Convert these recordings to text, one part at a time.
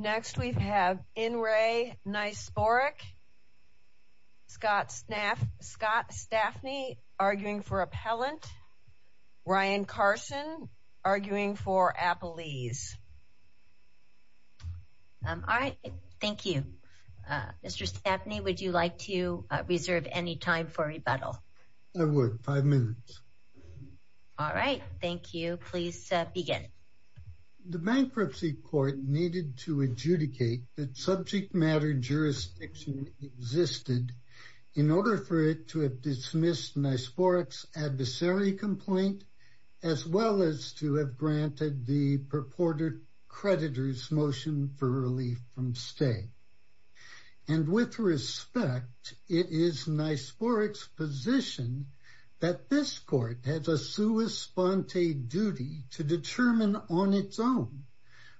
Next we have In re Niczyporuk, Scott Stafny arguing for appellant, Ryan Carson arguing for appellees. Alright, thank you. Mr. Stafny, would you like to reserve any time for rebuttal? I would, five minutes. Alright, thank you. Please begin. The Bankruptcy Court needed to adjudicate that subject matter jurisdiction existed in order for it to have dismissed Niczyporuk's adversary complaint as well as to have granted the purported creditor's motion for relief from stay. And with respect, it is Niczyporuk's position that this court has a sua sponte duty to determine on its own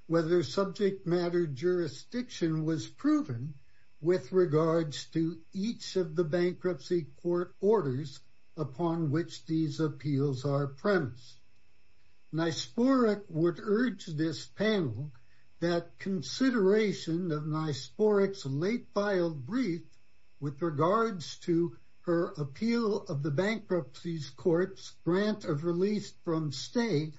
whether subject matter jurisdiction was proven with regards to each of the Bankruptcy Court orders upon which these appeals are premised. Niczyporuk would urge this panel that consideration of Niczyporuk's late filed brief with regards to her appeal of the Bankruptcy Court's grant of relief from stay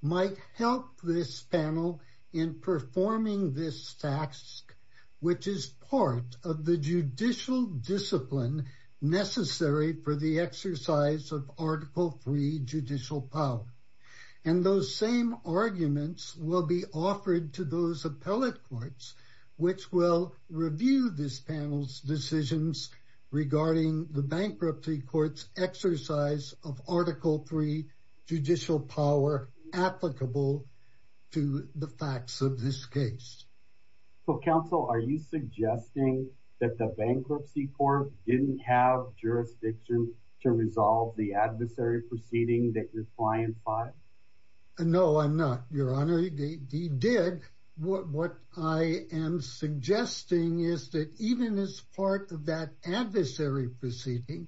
might help this panel in performing this task, which is part of the judicial discipline necessary for the exercise of article three judicial power. And those same arguments will be offered to those appellate courts, which will review this panel's decisions regarding the Bankruptcy Court's exercise of article three judicial power applicable to the facts of this case. So, counsel, are you suggesting that the Bankruptcy Court didn't have jurisdiction to resolve the adversary proceeding that your client filed? No, I'm not, Your Honor. He did. What I am suggesting is that even as part of that adversary proceeding,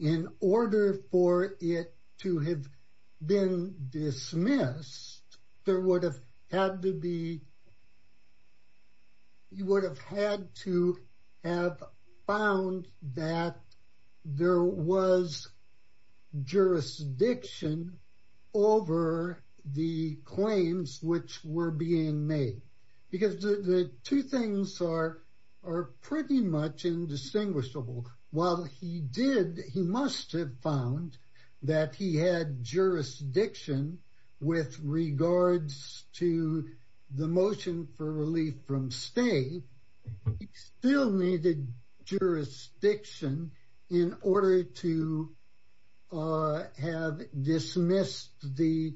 in order for it to have been dismissed, there would have had to be... jurisdiction for the claims which were being made. Because the two things are pretty much indistinguishable. While he did, he must have found that he had jurisdiction with regards to the motion for relief from stay. He still needed jurisdiction in order to have dismissed the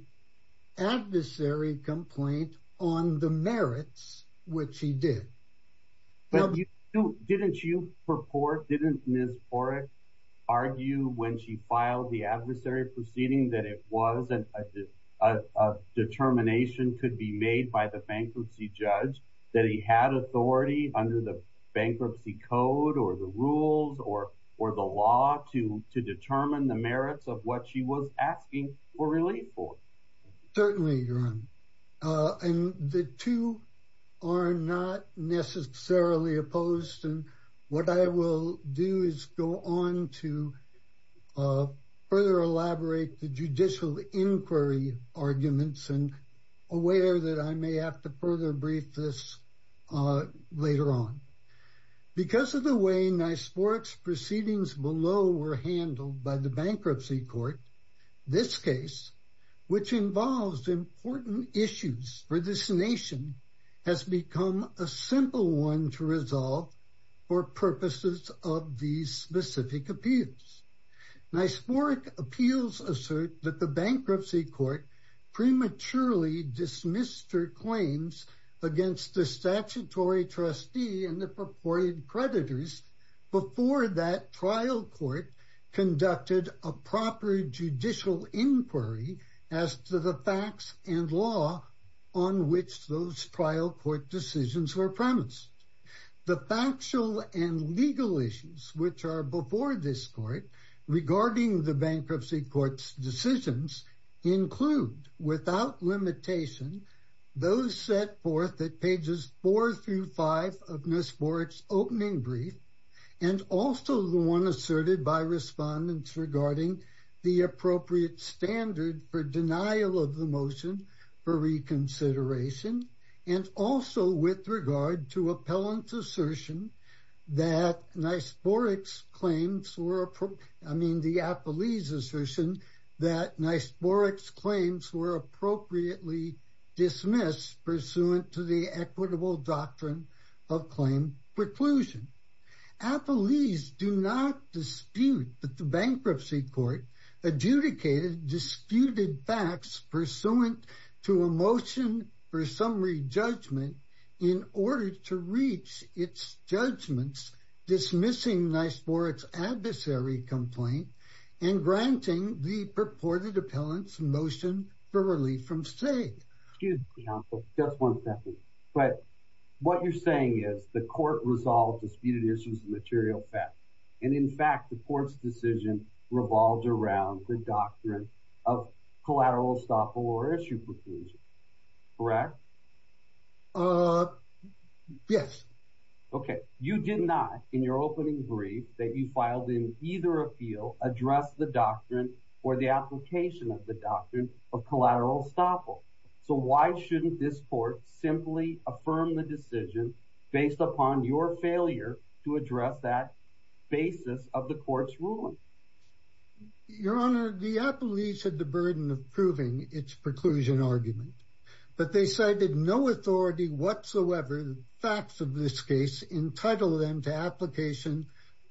adversary complaint on the merits, which he did. But didn't you purport, didn't Ms. Porrick argue when she filed the adversary proceeding that it was a determination could be made by the bankruptcy judge that he had authority under the bankruptcy code or the rules or the law to determine the merits of what she was asking for relief for? Certainly, Your Honor. And the two are not necessarily opposed. And what I will do is go on to further elaborate the judicial inquiry arguments and aware that I may have to further brief this later on. Because of the way NYSPORC's proceedings below were handled by the bankruptcy court, this case, which involves important issues for this nation, has become a simple one to resolve for purposes of these specific appeals. NYSPORC appeals assert that the bankruptcy court prematurely dismissed her claims against the statutory trustee and the purported creditors before that trial court conducted a proper judicial inquiry as to the facts and law on which those trial court decisions were premised. The factual and legal issues which are before this court regarding the bankruptcy court's decisions include, without limitation, those set forth at pages four through five of Ms. Porrick's opening brief and also the one asserted by respondents regarding the appropriate standard for denial of the motion for reconsideration. And also with regard to appellant's assertion that NYSPORC's claims were, I mean, the appellee's assertion that NYSPORC's claims were appropriately dismissed pursuant to the equitable doctrine of claim preclusion. Appellees do not dispute that the bankruptcy court adjudicated disputed facts pursuant to a motion for summary judgment in order to reach its judgments dismissing NYSPORC's adversary complaint and granting the purported appellant's motion for relief from SAIG. Excuse me, counsel, just one second. But what you're saying is the court resolved disputed issues of material facts. And in fact, the court's decision revolved around the doctrine of collateral estoppel or issue preclusion. Correct? Yes. Okay. You did not in your opening brief that you filed in either appeal address the doctrine or the application of the doctrine of collateral estoppel. So why shouldn't this court simply affirm the decision based upon your failure to address that basis of the court's ruling? Your Honor, the appellees had the burden of proving its preclusion argument. But they cited no authority whatsoever. The facts of this case entitled them to application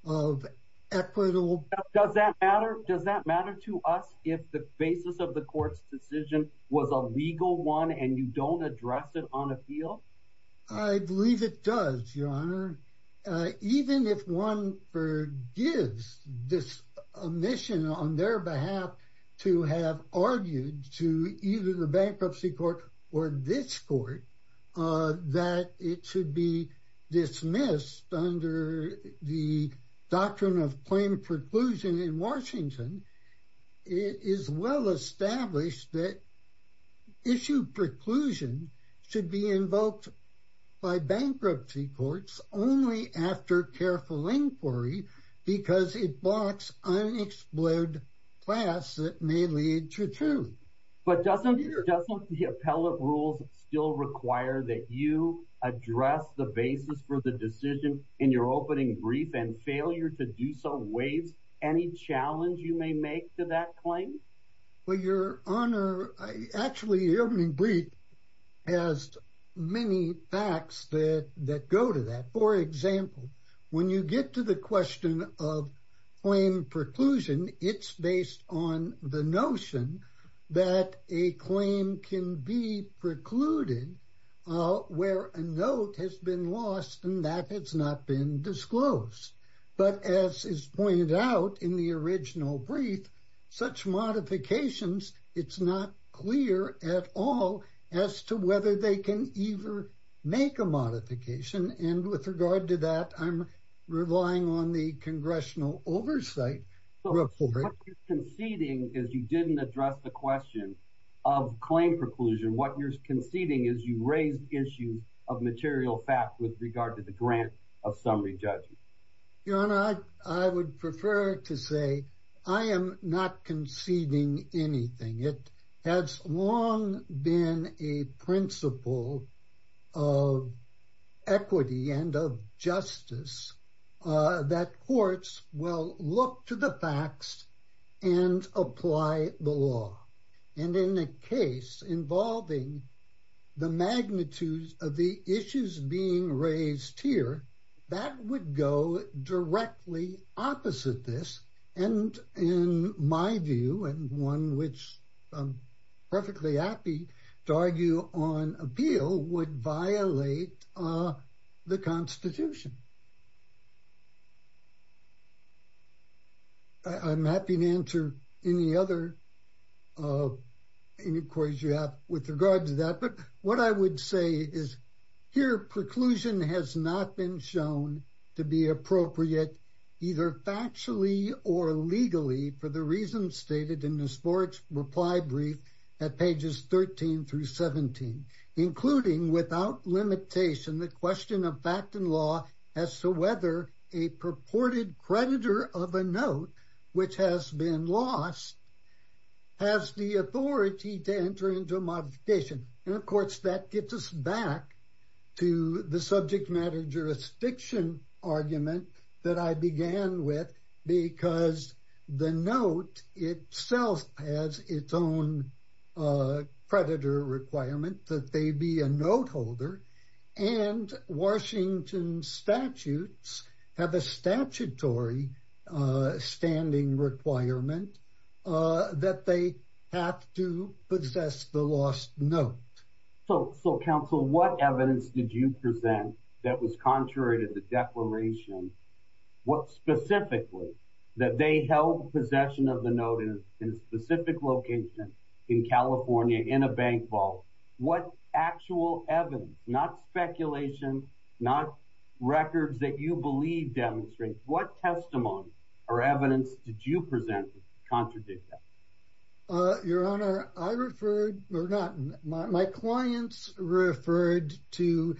of equitable. Does that matter? Does that matter to us if the basis of the court's decision was a legal one and you don't address it on appeal? I believe it does, Your Honor. Your Honor, even if one forgives this omission on their behalf to have argued to either the bankruptcy court or this court that it should be dismissed under the doctrine of claim preclusion in Washington, it is well established that issue preclusion should be invoked by bankruptcy courts only after careful inquiry because it blocks unexplored class that may lead to truth. But doesn't the appellate rules still require that you address the basis for the decision in your opening brief and failure to do so waives any challenge you may make to that claim? Well, Your Honor, actually, the opening brief has many facts that go to that. For example, when you get to the question of claim preclusion, it's based on the notion that a claim can be precluded where a note has been lost and that has not been disclosed. But as is pointed out in the original brief, such modifications, it's not clear at all as to whether they can either make a modification. And with regard to that, I'm relying on the congressional oversight report. What you're conceding is you didn't address the question of claim preclusion. What you're conceding is you raised issues of material fact with regard to the grant of summary judges. Your Honor, I would prefer to say I am not conceding anything. It has long been a principle of equity and of justice that courts will look to the facts and apply the law. And in a case involving the magnitudes of the issues being raised here, that would go directly opposite this. And in my view, and one which I'm perfectly happy to argue on appeal, would violate the Constitution. I'm happy to answer any other inquiries you have with regard to that. But what I would say is here preclusion has not been shown to be appropriate, either factually or legally, for the reasons stated in Ms. Borich's reply brief at pages 13 through 17, including without limitation the question of fact and law as to whether a purported creditor of a note which has been lost has the authority to enter into a modification. And, of course, that gets us back to the subject matter jurisdiction argument that I began with because the note itself has its own creditor requirement that they be a note holder. And Washington statutes have a statutory standing requirement that they have to possess the lost note. So, counsel, what evidence did you present that was contrary to the declaration specifically that they held possession of the note in a specific location in California in a bank vault? What actual evidence, not speculation, not records that you believe demonstrate, what testimony or evidence did you present contradict that? Your Honor, I referred or not my clients referred to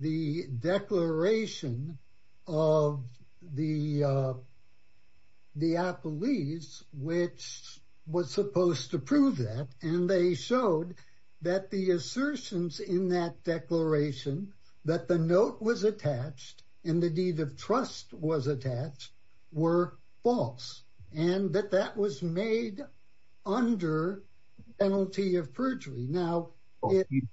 the declaration of the police, which was supposed to prove that. And they showed that the assertions in that declaration that the note was attached and the deed of trust was attached were false and that that was made under penalty of perjury.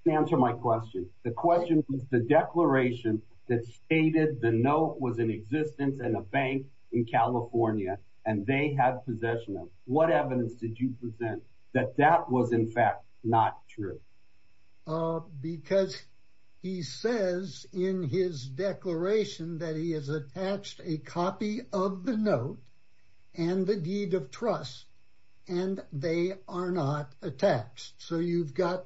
Answer my question. The question was the declaration that stated the note was in existence in a bank in California and they had possession of it. What evidence did you present that that was, in fact, not true? Because he says in his declaration that he has attached a copy of the note and the deed of trust and they are not attached. So you've got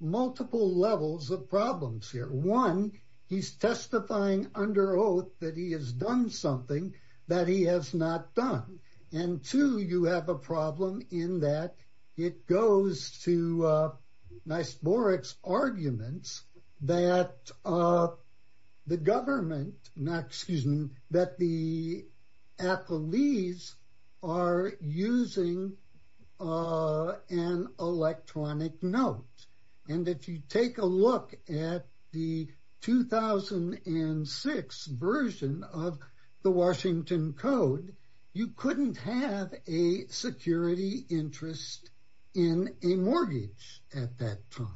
multiple levels of problems here. One, he's testifying under oath that he has done something that he has not done. And two, you have a problem in that it goes to Nice Boric's arguments that the government, excuse me, that the police are using an electronic note. And if you take a look at the 2006 version of the Washington Code, you couldn't have a security interest in a mortgage at that time.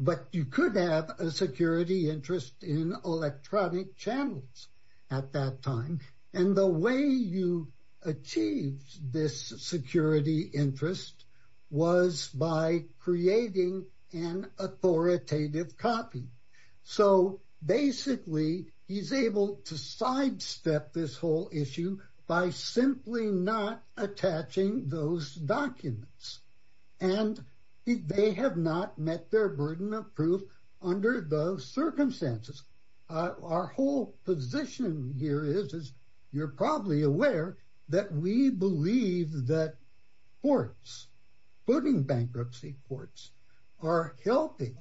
But you could have a security interest in electronic channels at that time. And the way you achieved this security interest was by creating an authoritative copy. So basically, he's able to sidestep this whole issue by simply not attaching those documents. And they have not met their burden of proof under those circumstances. Our whole position here is you're probably aware that we believe that courts, voting bankruptcy courts, are helping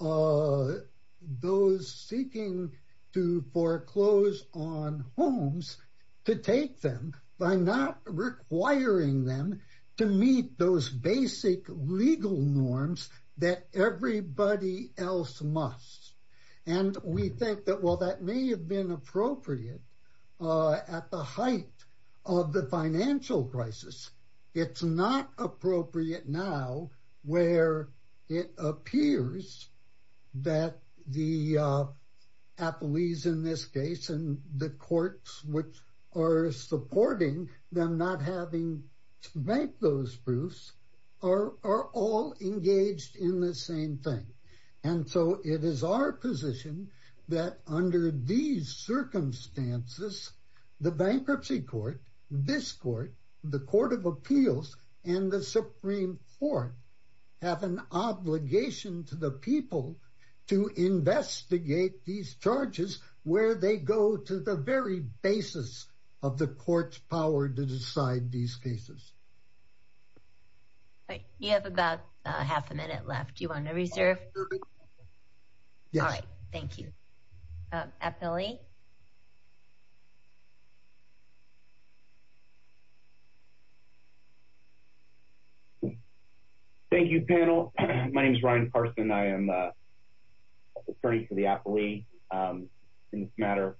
those seeking to foreclose on homes to take them by not requiring them to meet those basic legal norms that everybody else must. And we think that, well, that may have been appropriate at the height of the financial crisis. It's not appropriate now where it appears that the affilies in this case and the courts which are supporting them not having to make those proofs are all engaged in the same thing. And so it is our position that under these circumstances, the bankruptcy court, this court, the Court of Appeals, and the Supreme Court have an obligation to the people to investigate these charges where they go to the very basis of the court's power to decide these cases. You have about half a minute left. Do you want to reserve? Yes. All right. Thank you. Appellee? Thank you, panel. My name is Ryan Carson. I am an attorney for the appellee in this matter.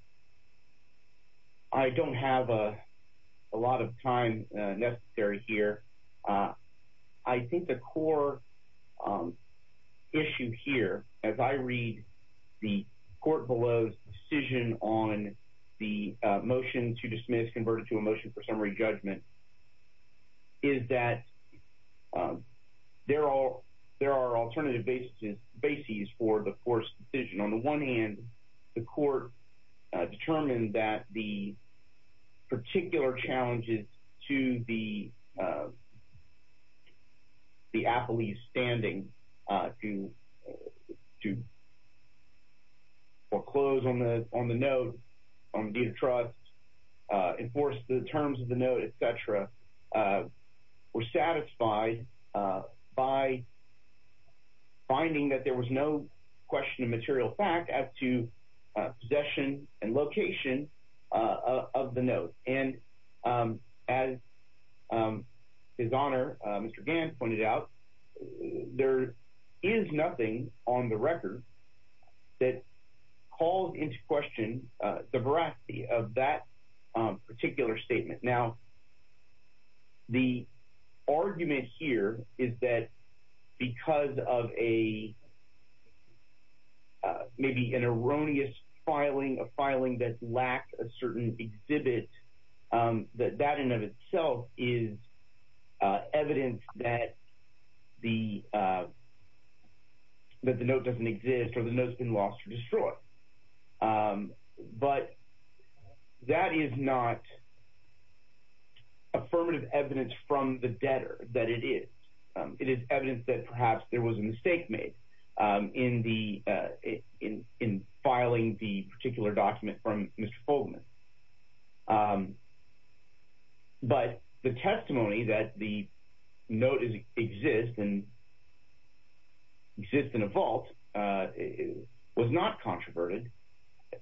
I don't have a lot of time necessary here. I think the core issue here, as I read the court below's decision on the motion to dismiss converted to a motion for summary judgment, is that there are alternative bases for the court's decision. On the one hand, the court determined that the particular challenges to the appellee's standing to foreclose on the note on the deed of trust, enforce the terms of the note, et cetera, were satisfied by finding that there was no question of material fact as to possession and location of the note. And as His Honor, Mr. Gann, pointed out, there is nothing on the record that calls into question the veracity of that particular statement. Now, the argument here is that because of maybe an erroneous filing, a filing that lacked a certain exhibit, that that in and of itself is evidence that the note doesn't exist or the note's been lost or destroyed. But that is not affirmative evidence from the debtor that it is. It is evidence that perhaps there was a mistake made in filing the particular document from Mr. Fogelman. But the testimony that the note exists and exists in a vault was not controverted.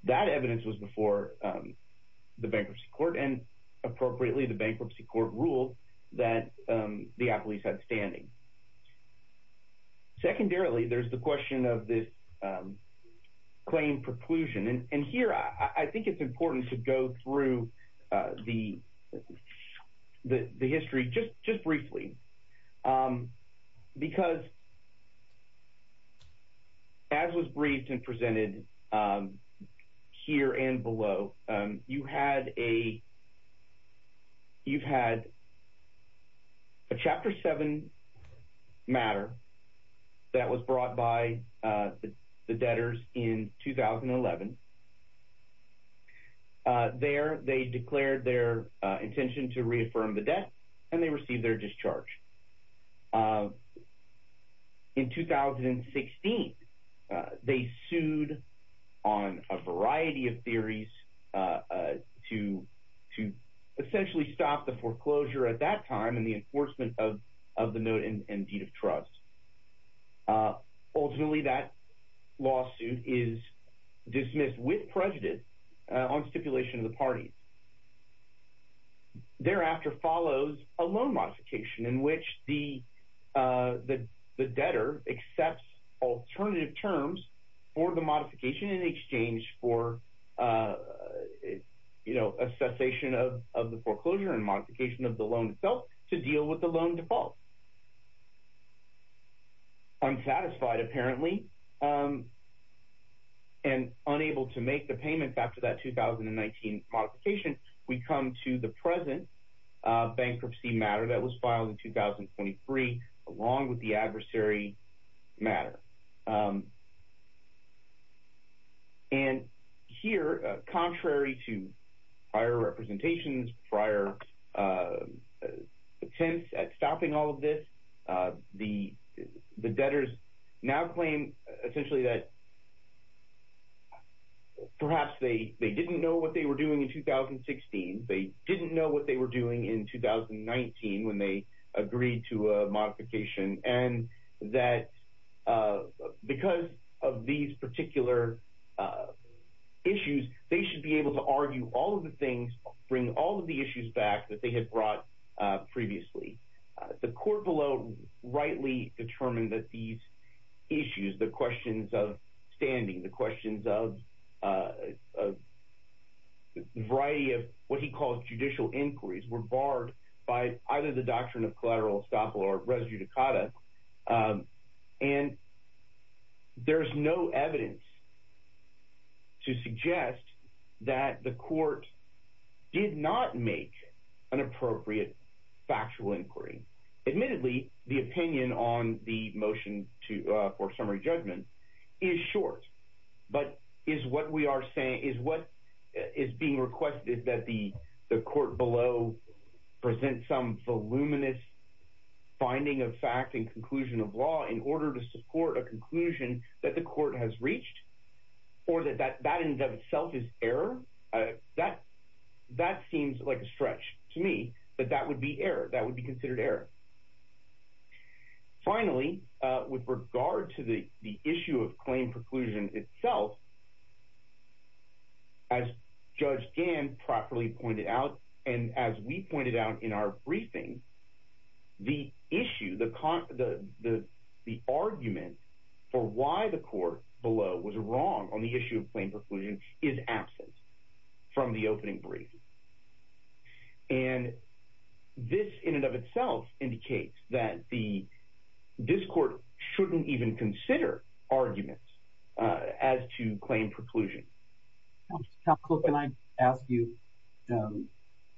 That evidence was before the Bankruptcy Court and appropriately the Bankruptcy Court ruled that the appellee's had standing. Secondarily, there's the question of this claim preclusion. And here, I think it's important to go through the history just briefly because as was briefed and presented here and below, you've had a Chapter 7 matter that was brought by the debtors in 2011. There, they declared their intention to reaffirm the debt and they received their discharge. In 2016, they sued on a variety of theories to essentially stop the foreclosure at that time and the enforcement of the note and deed of trust. Ultimately, that lawsuit is dismissed with prejudice on stipulation of the parties. Thereafter follows a loan modification in which the debtor accepts alternative terms for the modification in exchange for a cessation of the foreclosure and modification of the loan itself to deal with the loan default. Unsatisfied, apparently, and unable to make the payment after that 2019 modification, we come to the present bankruptcy matter that was filed in 2023 along with the adversary matter. And here, contrary to prior representations, prior attempts at stopping all of this, the debtors now claim essentially that perhaps they didn't know what they were doing in 2016. They didn't know what they were doing in 2019 when they agreed to a modification and that because of these particular issues, they should be able to argue all of the things, bring all of the issues back that they had brought previously. The court below rightly determined that these issues, the questions of standing, the questions of a variety of what he calls judicial inquiries, were barred by either the doctrine of collateral estoppel or res judicata, and there's no evidence to suggest that the court did not make an appropriate factual inquiry. Admittedly, the opinion on the motion for summary judgment is short, but is what is being requested that the court below present some voluminous finding of fact and conclusion of law in order to support a conclusion that the court has reached or that that in and of itself is error? That seems like a stretch to me, that that would be considered error. Finally, with regard to the issue of claim preclusion itself, as Judge Gann properly pointed out and as we pointed out in our briefing, the issue, the argument for why the court below was wrong on the issue of claim preclusion is absent from the opening briefing. And this in and of itself indicates that the, this court shouldn't even consider arguments as to claim preclusion. Counselor, can I ask you,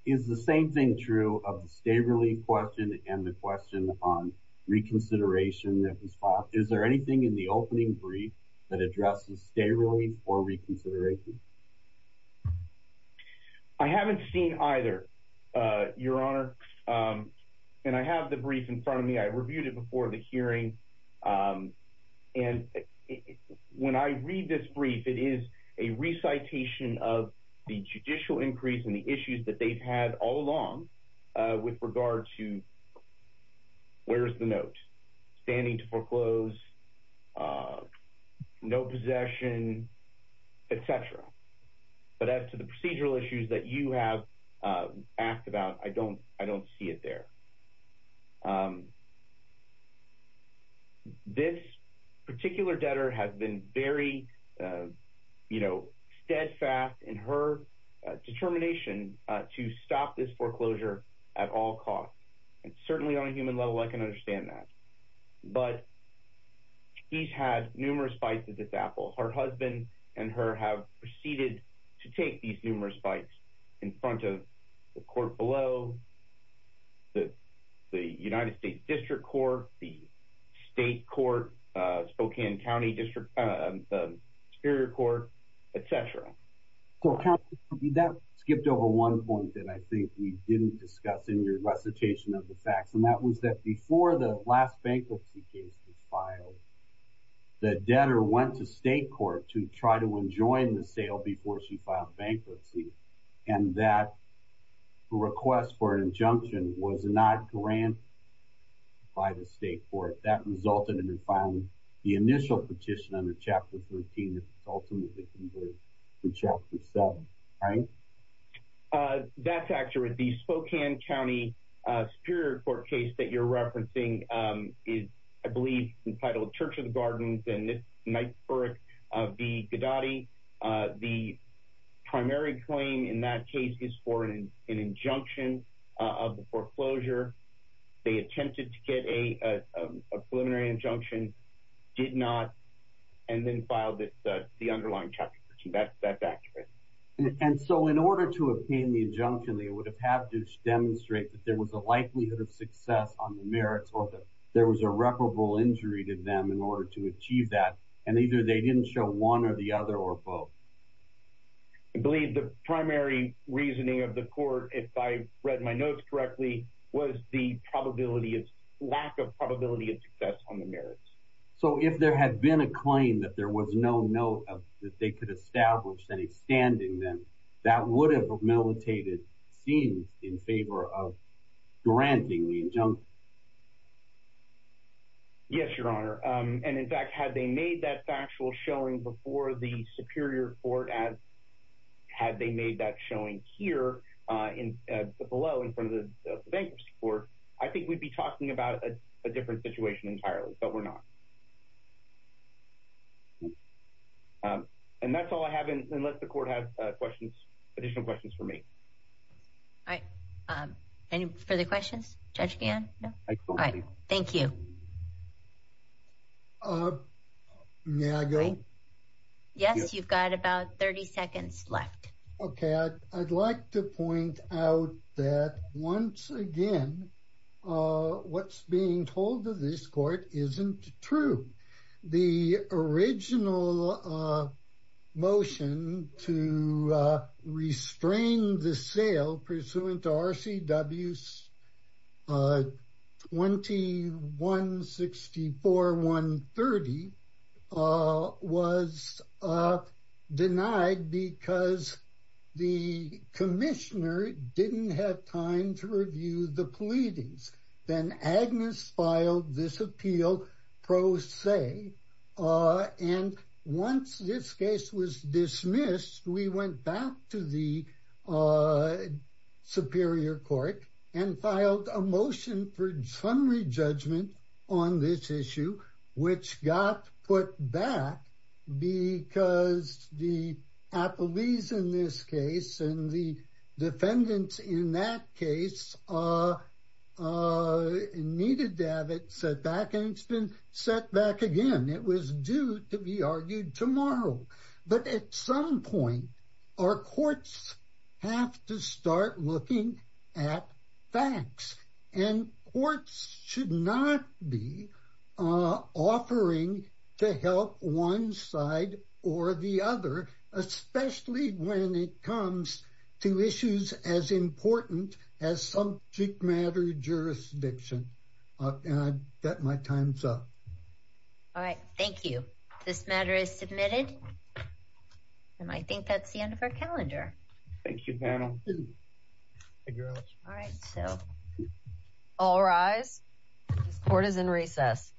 is the same thing true of the stay relief question and the question on reconsideration that was filed? Is there anything in the opening brief that addresses stay relief or reconsideration? I haven't seen either, Your Honor. And I have the brief in front of me. I reviewed it before the hearing. And when I read this brief, it is a recitation of the judicial increase and the issues that they've had all along with regard to where's the note, standing to foreclose, no possession, et cetera. But as to the procedural issues that you have asked about, I don't see it there. This particular debtor has been very, you know, steadfast in her determination to stop this foreclosure at all costs. And certainly on a human level, I can understand that. But he's had numerous fights to disapproval. Her husband and her have proceeded to take these numerous fights in front of the court below, the United States District Court, the State Court, Spokane County District, the Superior Court, et cetera. That skipped over one point that I think we didn't discuss in your recitation of the facts. And that was that before the last bankruptcy case was filed, the debtor went to State Court to try to enjoin the sale before she filed bankruptcy. And that request for an injunction was not granted by the State Court. That resulted in her filing the initial petition under Chapter 13 that ultimately converged to Chapter 7. That's accurate. The Spokane County Superior Court case that you're referencing is, I believe, entitled Church of the Gardens and this Knightsburg v. Gadotti. The primary claim in that case is for an injunction of the foreclosure. They attempted to get a preliminary injunction, did not, and then filed the underlying Chapter 13. That's accurate. And so in order to obtain the injunction, they would have had to demonstrate that there was a likelihood of success on the merits or that there was irreparable injury to them in order to achieve that, and either they didn't show one or the other or both. I believe the primary reasoning of the court, was the lack of probability of success on the merits. So if there had been a claim that there was no note that they could establish any standing, then that would have militated, it seems, in favor of granting the injunction. Yes, Your Honor. And in fact, had they made that factual showing before the Superior Court, as had they made that showing here below in front of the Bankers Court, I think we'd be talking about a different situation entirely, but we're not. And that's all I have, unless the court has questions, additional questions for me. All right. Any further questions, Judge Gann? No? All right. Thank you. May I go? Yes, you've got about 30 seconds left. Okay. I'd like to point out that, once again, what's being told to this court isn't true. The original motion to restrain the sale pursuant to RCW 21-64-130 was denied because the commissioner didn't have time to review the pleadings. Then Agnes filed this appeal pro se, and once this case was dismissed, we went back to the Superior Court and filed a motion for summary judgment on this issue, which got put back because the appellees in this case and the defendants in that case needed to have it set back, and it's been set back again. It was due to be argued tomorrow. But at some point, our courts have to start looking at facts, and courts should not be offering to help one side or the other, especially when it comes to issues as important as subject matter jurisdiction. And I've got my time's up. All right. Thank you. This matter is submitted, and I think that's the end of our calendar. Thank you, panel. All right. All rise. This court is in recess.